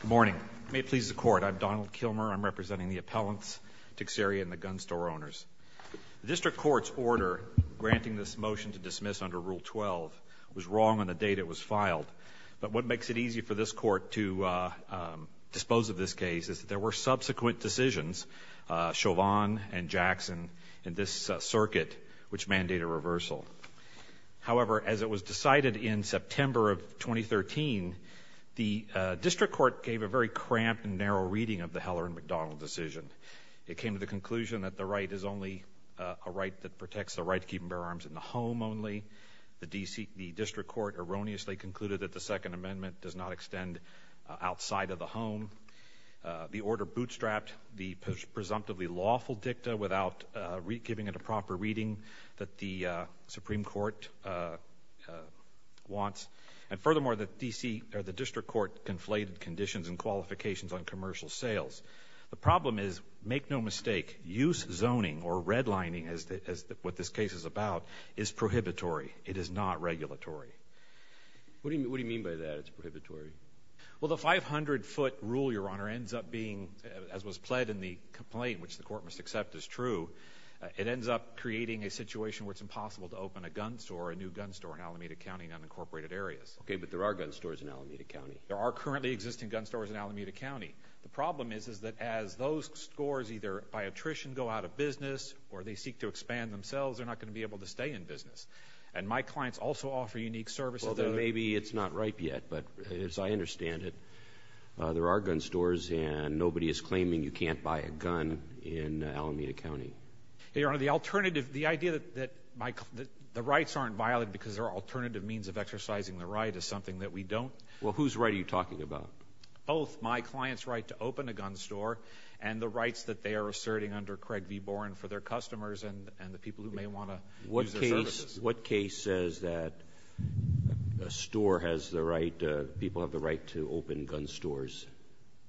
Good morning. May it please the court, I'm Donald Kilmer. I'm representing the appellants Teixeira and the gun store owners. The district court's order granting this motion to dismiss under Rule 12 was wrong on the date it was filed, but what makes it easy for this court to dispose of this case is that there were subsequent decisions, Chauvin and Jackson, in this circuit which mandated a reversal. However, as it was decided in September of 2013, the district court gave a very cramped and narrow reading of the Heller and McDonald decision. It came to the conclusion that the right is only a right that protects the right to keep and bear arms in the home only. The district court erroneously concluded that the Second Amendment does not extend outside of the home. The order bootstrapped the presumptively lawful dicta without giving it a proper reading that the Supreme Court wants, and furthermore, the district court conflated conditions and qualifications on commercial sales. The problem is, make no mistake, use zoning or redlining, as what this case is about, is prohibitory. It is not regulatory. What do you mean by that, it's prohibitory? Well, the 500-foot rule, Your Honor, ends up being, as was pled in the a situation where it's impossible to open a gun store, a new gun store, in Alameda County and unincorporated areas. Okay, but there are gun stores in Alameda County. There are currently existing gun stores in Alameda County. The problem is, is that as those stores either, by attrition, go out of business, or they seek to expand themselves, they're not going to be able to stay in business. And my clients also offer unique services. Well, maybe it's not ripe yet, but as I understand it, there are gun stores and nobody is claiming you can't buy a gun in Alameda County. Your Honor, the alternative, the idea that the rights aren't violated because there are alternative means of exercising the right, is something that we don't. Well, whose right are you talking about? Both, my client's right to open a gun store and the rights that they are asserting under Craig v. Boren for their customers and the people who may want to use their services. What case says that a store has the right, people have the right to open gun stores?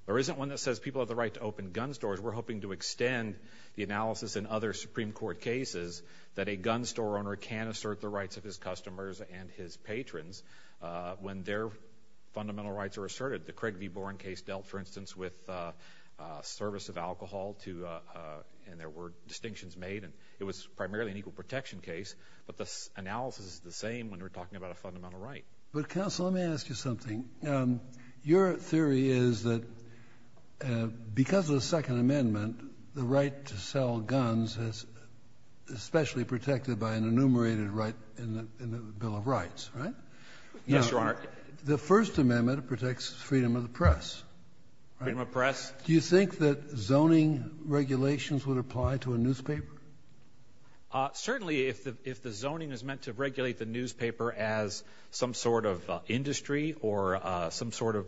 There isn't one that says people have the right to open gun stores. I would extend the analysis in other Supreme Court cases that a gun store owner can assert the rights of his customers and his patrons when their fundamental rights are asserted. The Craig v. Boren case dealt, for instance, with service of alcohol to, and there were distinctions made, and it was primarily an equal protection case. But the analysis is the same when we're talking about a fundamental right. But counsel, let me ask you something. Your second amendment, the right to sell guns, is especially protected by an enumerated right in the Bill of Rights, right? Yes, Your Honor. The First Amendment protects freedom of the press. Freedom of the press. Do you think that zoning regulations would apply to a newspaper? Certainly, if the zoning is meant to regulate the newspaper as some sort of industry or some sort of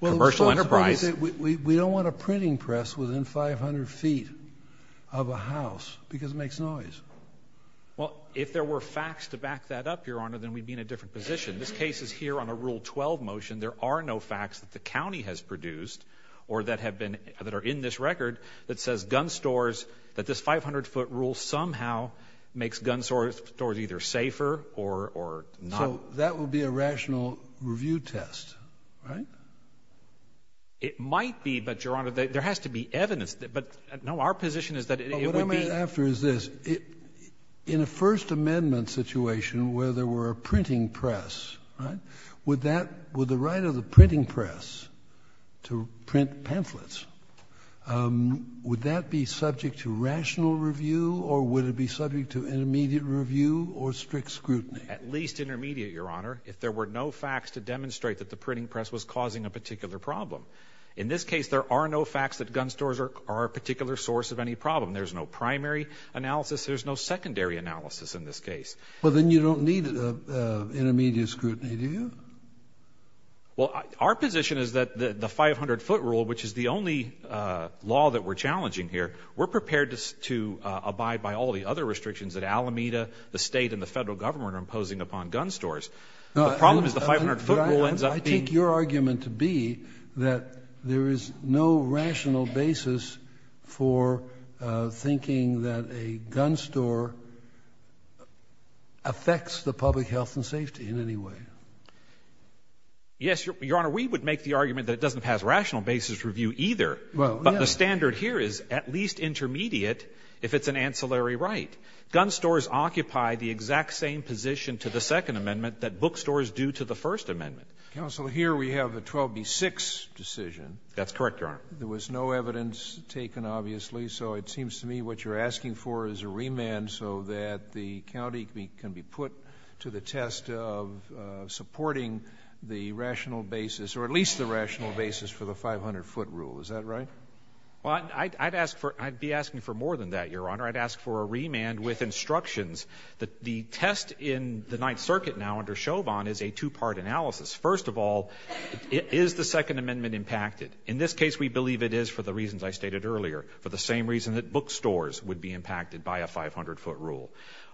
commercial enterprise. We don't want a printing press within 500 feet of a house because it makes noise. Well, if there were facts to back that up, Your Honor, then we'd be in a different position. This case is here on a Rule 12 motion. There are no facts that the county has produced or that have been, that are in this record that says gun stores, that this 500-foot rule somehow makes gun stores either safer or not. So that would be a rational review test, right? It might be, but, Your Honor, there has to be evidence. But, no, our position is that it would be What I'm after is this. In a First Amendment situation where there were a printing press, right, would that, would the right of the printing press to print pamphlets, would that be subject to rational review, or would it be subject to an immediate review or strict scrutiny? At least intermediate, Your Honor, if there were no facts to demonstrate that the printing press was causing a particular problem. In this case, there are no facts that gun stores are a particular source of any problem. There's no primary analysis. There's no secondary analysis in this case. Well, then you don't need intermediate scrutiny, do you? Well, our position is that the 500-foot rule, which is the only law that we're challenging here, we're prepared to abide by all the other restrictions that Alameda, the State and the Federal Government are imposing upon gun stores. The problem is the 500-foot rule ends up being I take your argument to be that there is no rational basis for thinking that a gun store affects the public health and safety in any way. Yes, Your Honor. We would make the argument that it doesn't pass rational basis review either. Well, yes. But the standard here is at least intermediate if it's an ancillary right. Gun stores occupy the exact same position to the Second Amendment that bookstores do to the First Amendment. Counsel, here we have a 12b-6 decision. That's correct, Your Honor. There was no evidence taken, obviously. So it seems to me what you're asking for is a remand so that the county can be put to the test of supporting the rational basis or at least the rational basis for the 500-foot rule. Is that right? Well, I'd be asking for more than that, Your Honor. I'd ask for a remand with instructions that the test in the Ninth Circuit now under Chauvin is a two-part analysis. First of all, is the Second Amendment impacted? In this case, we believe it is for the reasons I stated earlier, for the same reason that bookstores would be impacted by a 500-foot rule.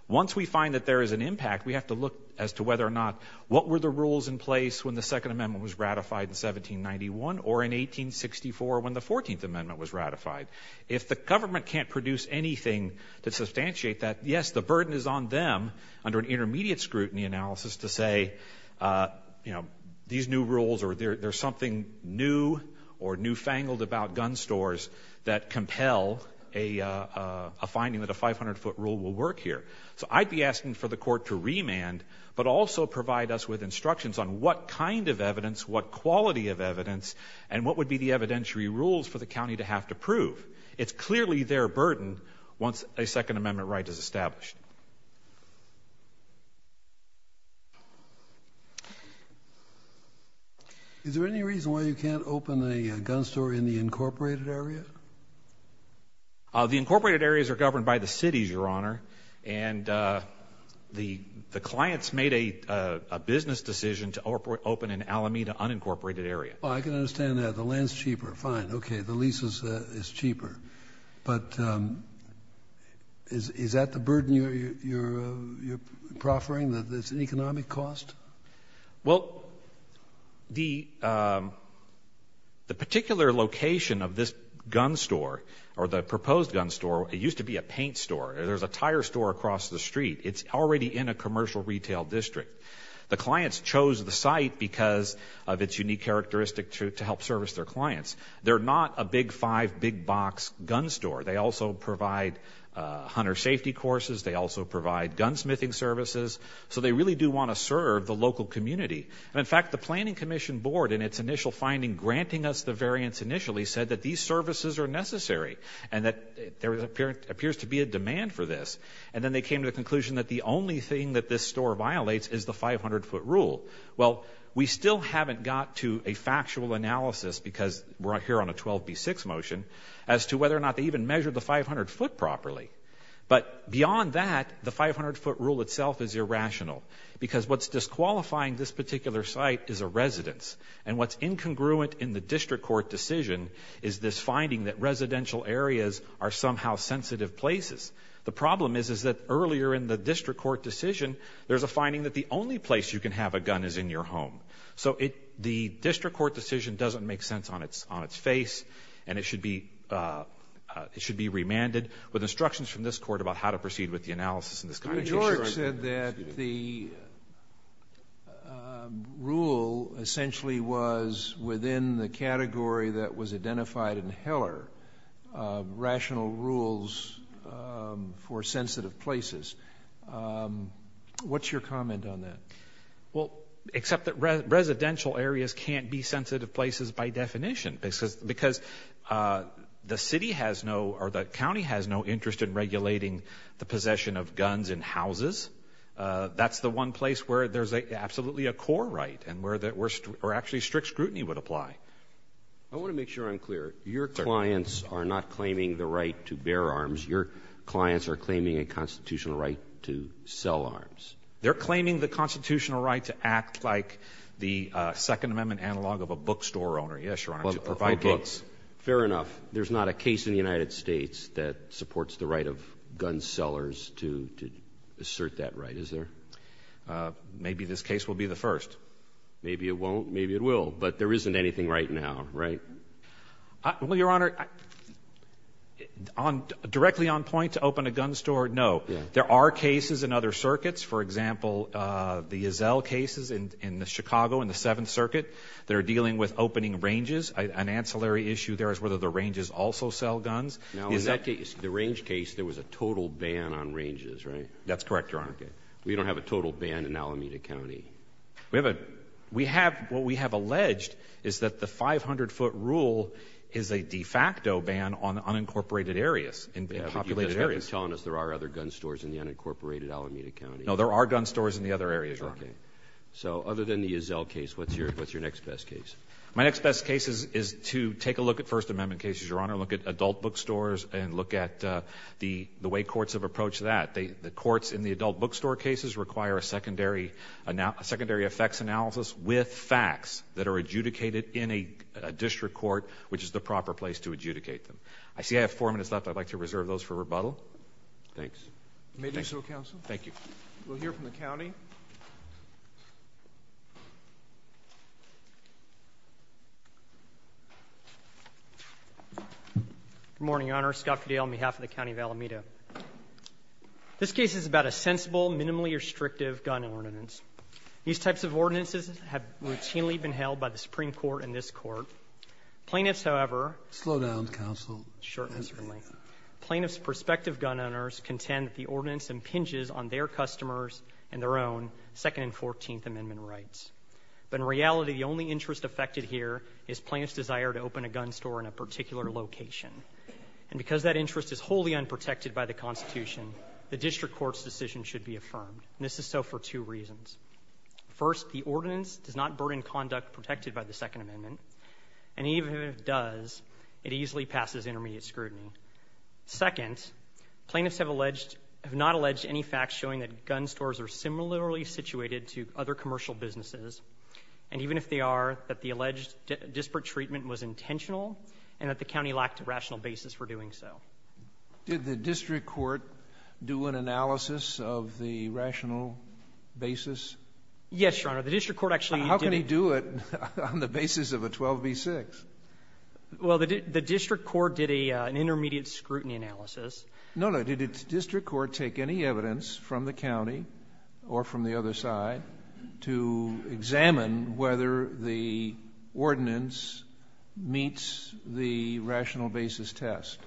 Once we find that there is an impact, we have to look as to whether or not what were the rules in place when the Second Amendment was ratified in 1791 or in 1864 when the Fourteenth Amendment was ratified. If the government can't produce anything to substantiate that, yes, the burden is on them under an intermediate scrutiny analysis to say, you know, these new rules or there's something new or newfangled about gun stores that compel a finding that a 500-foot rule will work here. So I'd be asking for the court to remand, but also provide us with instructions on what kind of evidence, what quality of evidence, and what would be the evidentiary rules for the county to have to prove. It's clearly their burden once a Second Amendment right is established. Is there any reason why you can't open a gun store in the incorporated area? The incorporated areas are governed by the cities, Your Honor, and the clients made a business decision to open an Alameda unincorporated area. I can understand that. The land's cheaper. Fine. Okay. The lease is cheaper. But is that the burden you're proffering, that it's an economic cost? Well, the particular location of this gun store, or the proposed gun store, it used to be a paint store. There's a tire store across the street. It's already in a commercial retail district. The clients chose the site because of its unique characteristic to help service their clients. They're not a big five, big box gun store. They also provide hunter safety courses. They also provide gunsmithing services. So they really do want to serve the local community. And in fact, the Planning Commission Board, in its initial finding granting us the variance initially, said that these services are necessary, and that there appears to be a demand for this. And then they came to the conclusion that the only thing that this store violates is the 500-foot rule. Well, we still haven't got to a factual analysis, because we're here on a 12b6 motion, as to whether or not they even measured the 500 foot properly. But beyond that, the 500-foot rule itself is irrational, because what's disqualifying this particular site is a residence. And what's incongruent in the district court decision is this finding that residential areas are somehow sensitive places. The problem is, is that earlier in the district court decision, there's a finding that the only place you can have a gun is in your home. So the district court decision doesn't make sense on its face, and it should be remanded with instructions from this court about how to ensure that the rule essentially was within the category that was identified in Heller, rational rules for sensitive places. What's your comment on that? Well, except that residential areas can't be sensitive places by definition, because the city has no, or the county has no interest in regulating the possession of guns in houses. That's the one place where there's absolutely a core right, and where actually strict scrutiny would apply. I want to make sure I'm clear. Your clients are not claiming the right to bear arms. Your clients are claiming a constitutional right to sell arms. They're claiming the constitutional right to act like the Second Amendment analog of a bookstore owner. Yes, Your Honor. To provide books. Fair enough. There's not a case in the United States that supports the right of gun sellers to assert that right, is there? Maybe this case will be the first. Maybe it won't. Maybe it will. But there isn't anything right now, right? Well, Your Honor, directly on point to open a gun store, no. There are cases in other circuits. For example, the Yazelle cases in Chicago in the Seventh Circuit. They're dealing with opening ranges. An in that case, the range case, there was a total ban on ranges, right? That's correct, Your Honor. We don't have a total ban in Alameda County. We have a, we have, what we have alleged is that the 500-foot rule is a de facto ban on unincorporated areas, in populated areas. You're telling us there are other gun stores in the unincorporated Alameda County. No, there are gun stores in the other areas, Your Honor. So other than the Yazelle case, what's your, what's your next best case? My next best case is to take a look at First Amendment cases, Your Honor. Look at adult bookstores and look at the, the way courts have approached that. They, the courts in the adult bookstore cases require a secondary, a secondary effects analysis with facts that are adjudicated in a district court, which is the proper place to adjudicate them. I see I have four minutes left. I'd like to reserve those for rebuttal. Thanks. May do so, counsel. Thank you. We'll hear from the Good morning, Your Honor. Scott Fidele on behalf of the County of Alameda. This case is about a sensible, minimally restrictive gun ordinance. These types of ordinances have routinely been held by the Supreme Court and this Court. Plaintiffs, however, slow down, counsel. Sure, certainly. Plaintiffs' prospective gun owners contend that the ordinance impinges on their customers and their own Second and Fourteenth Amendment rights. But in reality, the only interest affected here is plaintiffs' desire to open a gun store in a particular location. And because that interest is wholly unprotected by the Constitution, the district court's decision should be affirmed. This is so for two reasons. First, the ordinance does not burden conduct protected by the Second Amendment. And even if it does, it easily passes intermediate scrutiny. Second, plaintiffs have alleged, have not alleged any facts showing that gun stores are similarly situated to other commercial businesses. And even if they are, that the alleged disparate treatment was intentional and that the county lacked a rational basis for doing so. Did the district court do an analysis of the rational basis? Yes, Your Honor. The district court actually did. How can he do it on the basis of a 12b-6? Well, the district court did an intermediate scrutiny analysis. No, no. Did the district court take any evidence from the county or from the other side to examine whether the ordinance meets the rational basis test?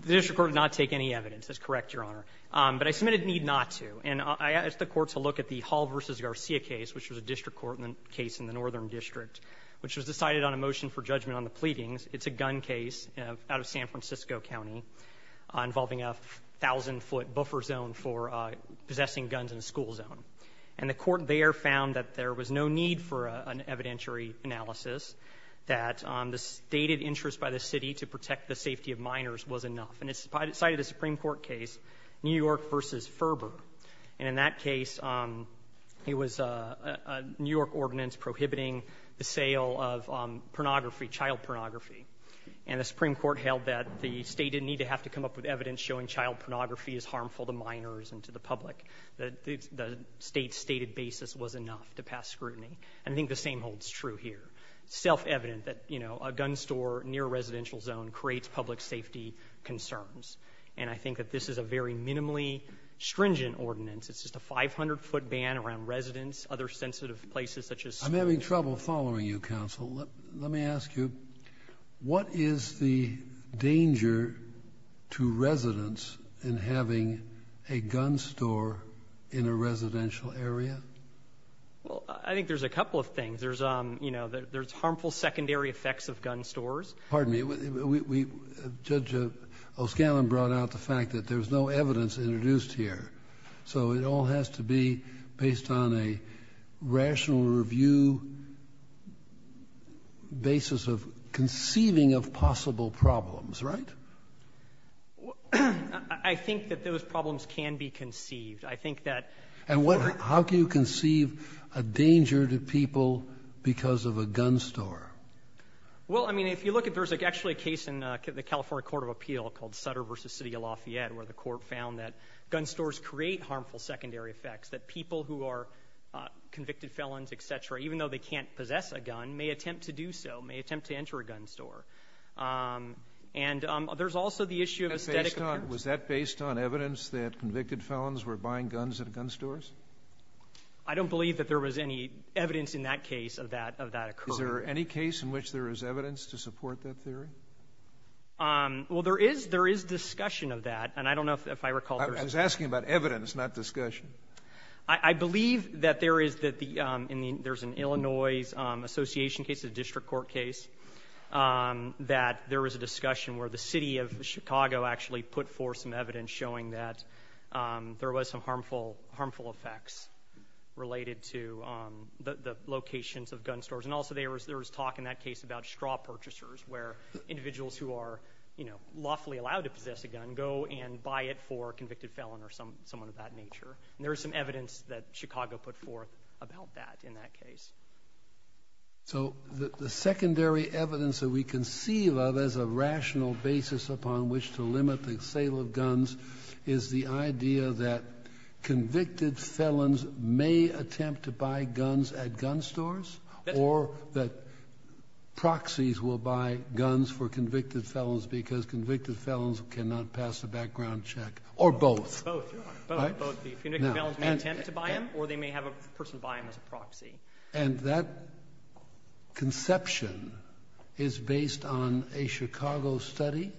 The district court did not take any evidence. That's correct, Your Honor. But I submitted need not to. And I asked the court to look at the Hall v. Garcia case, which was a district court case in the Northern District, which was decided on a motion for judgment on the pleadings. It's a gun case out of San Francisco County involving a 1,000-foot buffer zone for possessing guns in a school zone. And the court there found that there was no need for an evidentiary analysis, that the stated interest by the city to protect the safety of minors was enough. And it's cited a Supreme Court case, New York v. Ferber. And in that case, it was a New York ordinance prohibiting the sale of pornography, child pornography. And the Supreme Court held that the state didn't need to have to come up with evidence showing child pornography is harmful to minors and to the public. The state's enough to pass scrutiny. And I think the same holds true here. It's self-evident that, you know, a gun store near a residential zone creates public safety concerns. And I think that this is a very minimally stringent ordinance. It's just a 500-foot ban around residents, other sensitive places such as schools. I'm having trouble following you, counsel. Let me ask you, what is the danger to residents in having a gun store in a residential area? Well, I think there's a couple of things. There's, you know, there's harmful secondary effects of gun stores. Pardon me. Judge O'Scannlon brought out the fact that there's no evidence introduced here. So it all has to be based on a rational review basis of conceiving of possible problems, right? Well, I think that those problems can be conceived. I think that... And how can you conceive a danger to people because of a gun store? Well, I mean, if you look at, there's actually a case in the California Court of Appeal called Sutter v. City of Lafayette, where the court found that gun stores create harmful secondary effects, that people who are convicted felons, et cetera, even though they can't possess a gun, may attempt to do so, may attempt to enter a gun store. And there's also the issue of aesthetic appearance. Was that based on evidence that convicted felons were buying guns at gun stores? I don't believe that there was any evidence in that case of that occurring. Is there any case in which there is evidence to support that theory? Well, there is discussion of that, and I don't know if I recall... I was asking about evidence, not discussion. I believe that there is an Illinois Association case, a district court case, that there was a discussion where the city of Chicago actually put forth some evidence showing that there was some harmful effects related to the locations of gun stores. And also, there was talk in that case about straw purchasers, where individuals who are lawfully allowed to possess a gun can go and buy it for a convicted felon or someone of that nature. And there is some evidence that Chicago put forth about that in that case. So the secondary evidence that we conceive of as a rational basis upon which to limit the sale of guns is the idea that convicted felons may attempt to buy guns at gun stores, or that proxies will buy guns for convicted felons because convicted felons cannot pass a background check, or both. Both. Both. Both. The convicted felons may attempt to buy them, or they may have a person buy them as a proxy. And that conception is based on a Chicago study?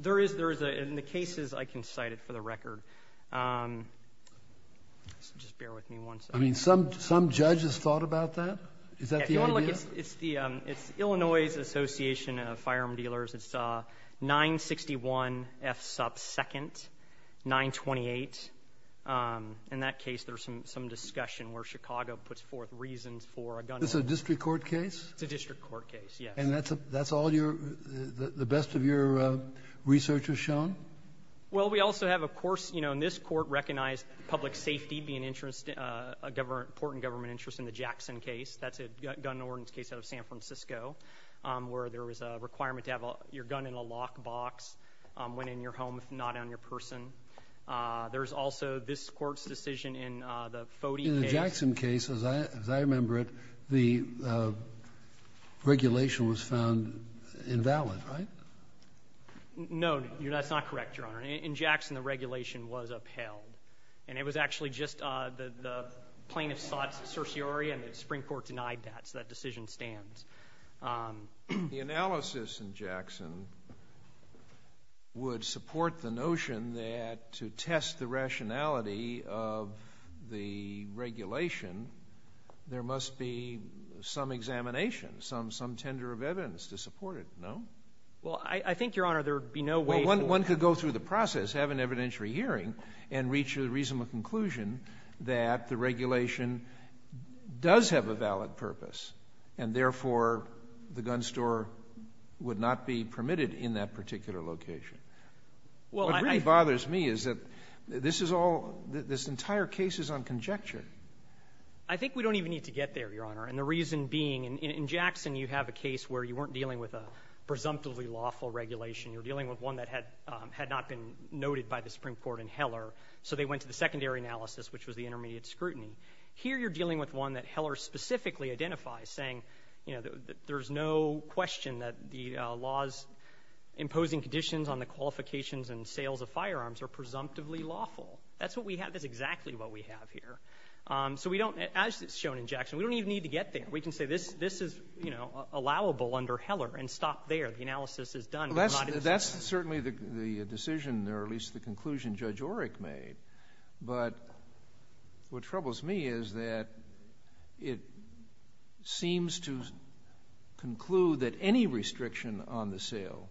There is. There is. In the cases, I can cite it for the record. Just bear with me one second. I mean, some judges thought about that? Is that the idea? No, it's the Illinois Association of Firearm Dealers. It's 961 F. Supp. 2nd, 928. In that case, there's some discussion where Chicago puts forth reasons for a gun order. It's a district court case? It's a district court case, yes. And that's all your, the best of your research has shown? Well, we also have, of course, you know, and this court recognized public safety being a government, important government interest in the Jackson case. That's a gun ordinance case out of San Francisco, where there was a requirement to have your gun in a lockbox when in your home, if not on your person. There's also this court's decision in the Fody case. In the Jackson case, as I remember it, the regulation was found invalid, right? No, that's not correct, Your Honor. In Jackson, the regulation was upheld. And it was actually just the plaintiff sought certiorari, and the Supreme Court denied that, so that decision stands. The analysis in Jackson would support the notion that to test the rationality of the regulation, there must be some examination, some tender of evidence to support it, no? Well, I think, Your Honor, there would be no way for— Well, one could go through the process, have an evidentiary hearing, and reach a reasonable conclusion that the regulation does have a valid purpose, and therefore, the gun store would not be permitted in that particular location. Well, I— What really bothers me is that this is all — this entire case is on conjecture. I think we don't even need to get there, Your Honor. And the reason being, in Jackson, you have a case where you weren't dealing with a presumptively lawful regulation. You were dealing with one that had not been noted by the Supreme Court in Heller, so they went to the secondary analysis, which was the intermediate scrutiny. Here you're dealing with one that Heller specifically identifies, saying, you know, that there's no question that the law's imposing conditions on the qualifications and sales of firearms are presumptively lawful. That's what we have. That's exactly what we have here. So we don't — as shown in Jackson, we don't even need to get there. We can say, this is, you know, allowable under Heller, and stop there. The analysis is done. That's certainly the decision, or at least the conclusion Judge Oreck made. But what troubles me is that it seems to conclude that any restriction on the sale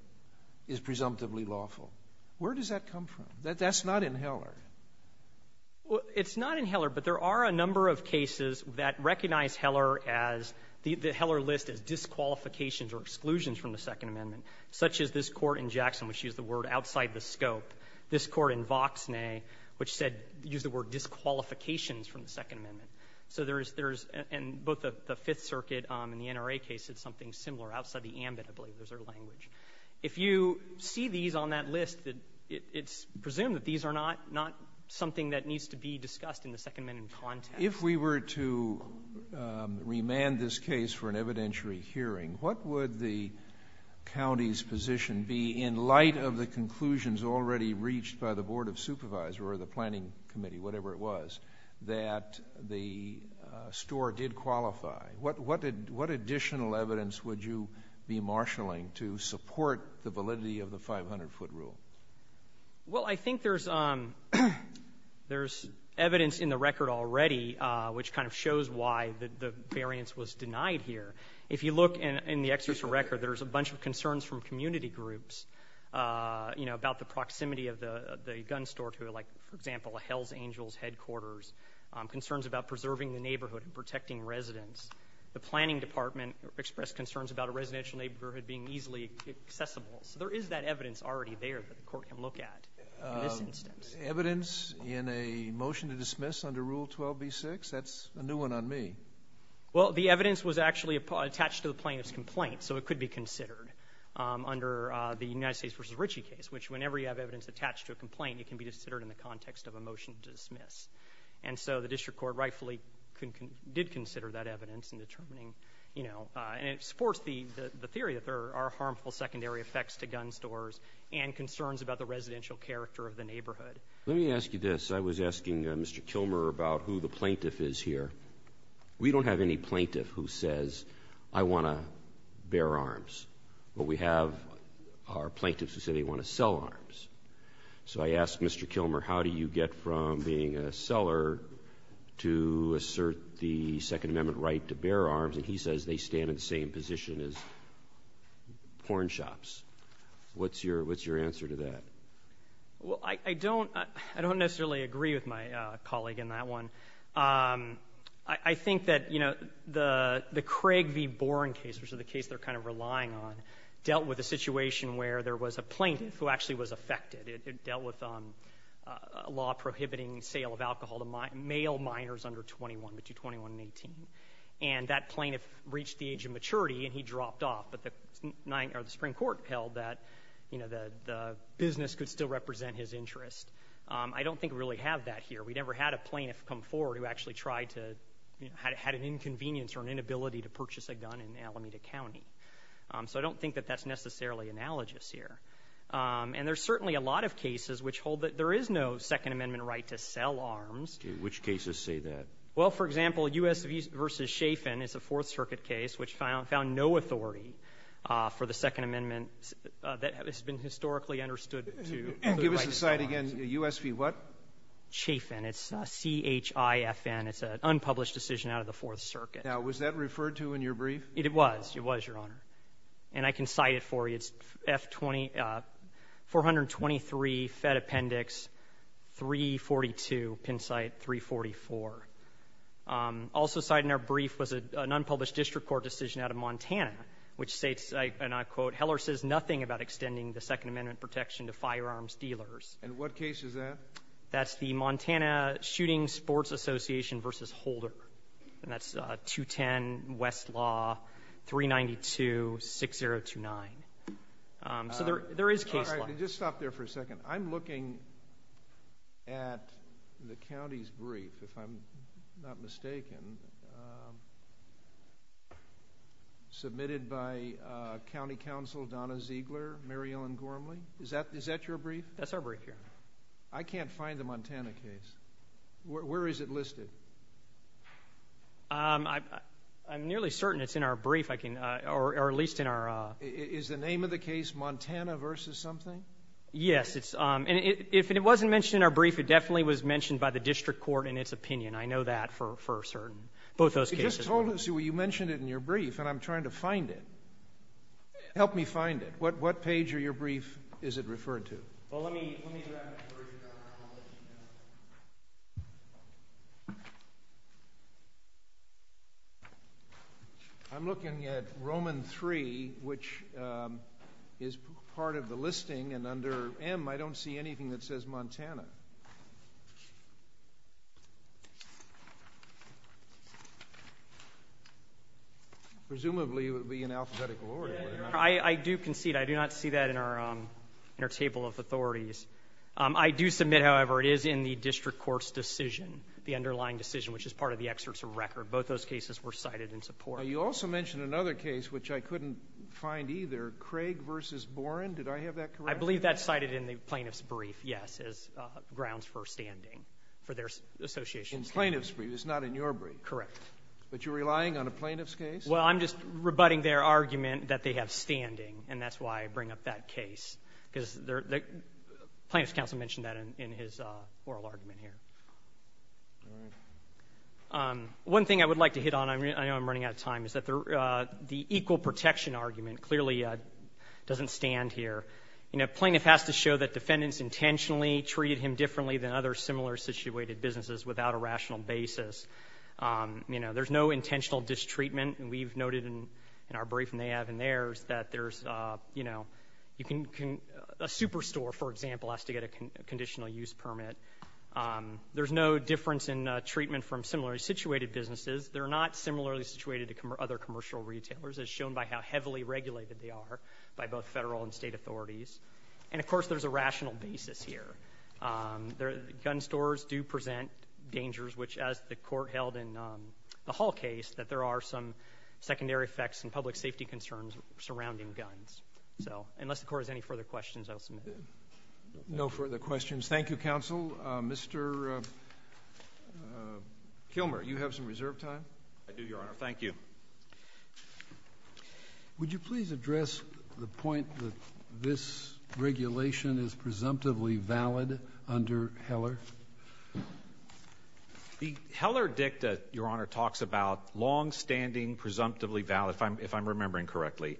is presumptively lawful. Where does that come from? That's not in Heller. Well, it's not in Heller, but there are a number of cases that recognize Heller as — the court in Jackson, which used the word outside the scope, this court in Voxnay, which said — used the word disqualifications from the Second Amendment. So there's — and both the Fifth Circuit and the NRA case said something similar outside the ambit, I believe. There's their language. If you see these on that list, it's presumed that these are not something that needs to be discussed in the Second Amendment context. If we were to remand this case for an evidentiary hearing, what would the county's position be in light of the conclusions already reached by the Board of Supervisors or the Planning Committee, whatever it was, that the store did qualify? What additional evidence would you be marshalling to support the validity of the 500-foot rule? Well, I think there's evidence in the record already which kind of shows why the variance was denied here. If you look in the exertion record, there's a bunch of concerns from community groups, you know, about the proximity of the gun store to it, like, for example, a Hell's Angels headquarters, concerns about preserving the neighborhood and protecting residents. The Planning Department expressed concerns about a residential neighborhood being easily accessible. So there is that evidence already there that the court can look at in this instance. Evidence in a motion to dismiss under Rule 12b-6? That's a new one on me. Well, the evidence was actually attached to the plaintiff's complaint, so it could be considered under the United States v. Ritchie case, which whenever you have evidence attached to a complaint, it can be considered in the context of a motion to dismiss. And so the district court rightfully did consider that evidence in determining, you know, and it supports the theory that there are harmful secondary effects to gun stores and concerns about the residential character of the neighborhood. Let me ask you this. I was asking Mr. Kilmer about who the plaintiff is here. We don't have any plaintiff who says, I want to bear arms. What we have are plaintiffs who say they want to sell arms. So I asked Mr. Kilmer, how do you get from being a seller to assert the Second Amendment right to bear arms, and he says they stand in the same position as porn shops. What's your answer to that? Well, I don't necessarily agree with my colleague in that one. I think that, you know, the Craig v. Boren case, which is the case they're kind of relying on, dealt with a situation where there was a plaintiff who actually was affected. It dealt with a law prohibiting sale of alcohol to male minors under 21, between 21 and 18. And that plaintiff reached the age of maturity and he dropped off, but the Supreme Court held that, you know, the business could still represent his interest. I don't think we really have that here. We never had a plaintiff come forward who actually tried to, you know, had an inconvenience or an inability to purchase a gun in Alameda County. So I don't think that that's necessarily analogous here. And there's certainly a lot of cases which hold that there is no Second Amendment right to sell arms. Which cases say that? Well, for example, U.S. v. Chafin is a Fourth Circuit case which found no authority for the Second Amendment that has been historically understood to be the right to sell arms. Give us the site again. U.S. v. what? Chafin. It's C-H-I-F-N. It's an unpublished decision out of the Fourth Circuit. Now, was that referred to in your brief? It was. It was, Your Honor. And I can cite it for you. It's F-20-423, Fed Appendix 342, Penn Site 344. Also cited in our brief was an unpublished district court decision out of Montana which states, and I quote, Heller says nothing about extending the Second Amendment protection to firearms dealers. And what case is that? That's the Montana Shooting Sports Association v. Holder. And that's 210 Westlaw 392-6029. So there is case law. Just stop there for a second. I'm looking at the county's brief, if I'm not mistaken, submitted by County Counsel Donna Ziegler, Mary Ellen Gormley. Is that your brief? That's our brief, Your Honor. I can't find the Montana case. Where is it listed? I'm nearly certain it's in our brief, or at least in our... Is the name of the case Montana v. something? Yes. And if it wasn't mentioned in our brief, it definitely was mentioned by the district court in its opinion. I know that for certain. Both those cases. You just told us, you mentioned it in your brief, and I'm trying to find it. Help me find it. What page of your brief is it referred to? Well, let me grab it for you, Your Honor, and I'll let you know. I'm looking at Roman 3, which is part of the listing, and under M, I don't see anything that says Montana. Presumably, it would be in alphabetical order. I do concede. I do not see that in our table of authorities. I do submit, however, it is in the district court's decision, the underlying decision, which is part of the excerpts of record. Both those cases were cited in support. Now, you also mentioned another case, which I couldn't find either, Craig v. Boren. Did I have that correct? I believe that's cited in the plaintiff's brief, yes, as grounds for standing, for their association standing. In plaintiff's brief. It's not in your brief. Correct. But you're relying on a plaintiff's case? Well, I'm just rebutting their argument that they have standing, and that's why I bring up that case, because the plaintiff's counsel mentioned that in his oral argument here. One thing I would like to hit on, I know I'm running out of time, is that the equal protection argument clearly doesn't stand here. You know, plaintiff has to show that defendants intentionally treated him differently than other similar-situated businesses without a rational basis. You know, there's no intentional distreatment, and we've noted in our briefing they have in theirs that there's, you know, a superstore, for example, has to get a conditional use permit. There's no difference in treatment from similarly-situated businesses. They're not similarly-situated to other commercial retailers, as shown by how heavily regulated they are by both federal and state authorities. And, of course, there's a rational basis here. Gun stores do present dangers, which, as the Court held in the Hall case, that there are some secondary effects and public safety concerns surrounding guns. So, unless the Court has any further questions, I'll submit. No further questions. Thank you, Counsel. Mr. Kilmer, you have some reserve time? I do, Your Honor. Thank you. Would you please address the point that this regulation is presumptively valid under Heller? The Heller dicta, Your Honor, talks about long-standing, presumptively valid, if I'm remembering correctly,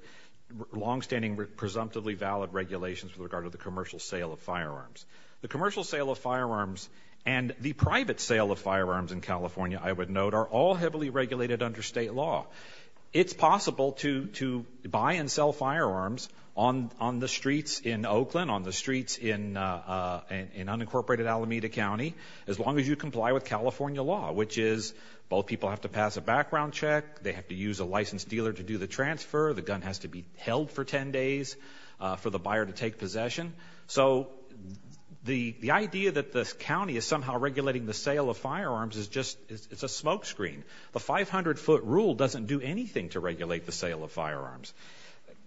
long-standing, presumptively valid regulations with regard to the commercial sale of firearms. The commercial sale of firearms and the private sale of firearms in California, I would note, are all heavily regulated under state law. It's possible to buy and sell firearms on the streets in Oakland, on the streets in unincorporated Alameda County, as long as you comply with California law, which is both people have to pass a background check, they have to use a licensed dealer to do the transfer, the gun has to be held for 10 days for the buyer to take possession. So, the idea that the county is somehow regulating the sale of firearms is just, it's a smoke screen. The 500-foot rule doesn't do anything to regulate the sale of firearms.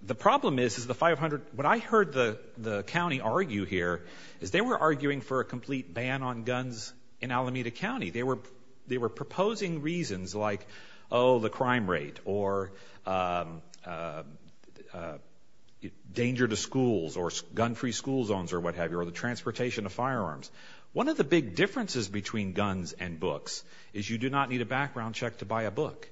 The problem is, is the 500, what I heard the county argue here is they were arguing for a complete ban on guns in Alameda County. They were proposing reasons like, oh, the crime rate or danger to schools or gun-free school zones or what the big difference is between guns and books is you do not need a background check to buy a book.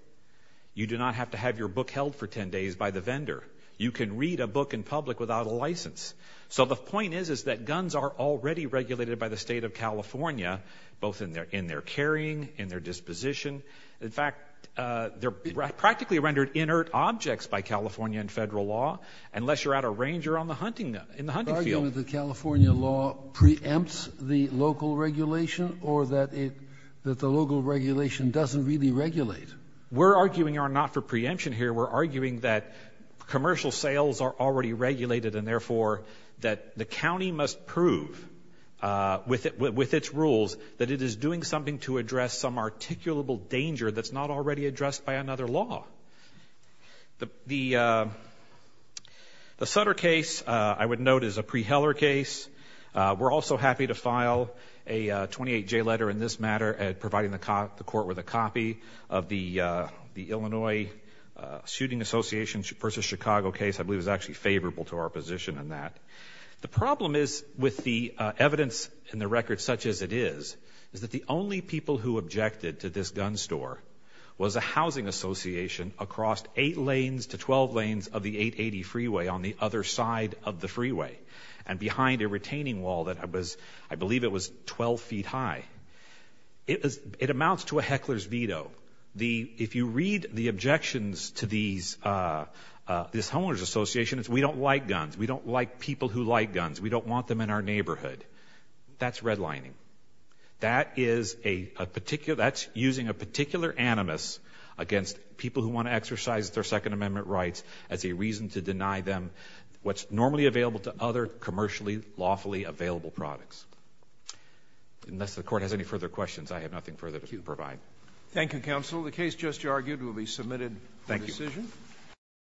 You do not have to have your book held for 10 days by the vendor. You can read a book in public without a license. So, the point is, is that guns are already regulated by the state of California, both in their carrying, in their disposition. In fact, they're practically rendered inert objects by California and federal law, unless you're at a range or in the hunting field. The argument that California law preempts the local regulation or that the local regulation doesn't really regulate? We're arguing not for preemption here. We're arguing that commercial sales are already regulated and, therefore, that the county must prove with its rules that it is doing something to address some articulable danger that's not already addressed by another law. The Sutter case, I would note, is a pre-Heller case. We're also happy to file a 28-J letter in this matter at providing the court with a copy of the Illinois Shooting Association v. Chicago case. I believe it was actually favorable to our position in that. The problem is, with the evidence in the record such as it is, is that the only people who objected to this gun store was a housing association across 8 lanes to 12 lanes of the 880 freeway on the other side of the freeway and behind a retaining wall that was, I believe it was 12 feet high. It amounts to a heckler's veto. If you read the objections to this homeowners association, it's, we don't like guns. We don't like people who like guns. We don't That is a particular, that's using a particular animus against people who want to exercise their Second Amendment rights as a reason to deny them what's normally available to other commercially, lawfully available products. Unless the court has any further questions, I have nothing further to provide. Thank you, counsel. The case just argued will be submitted for decision. Thank you.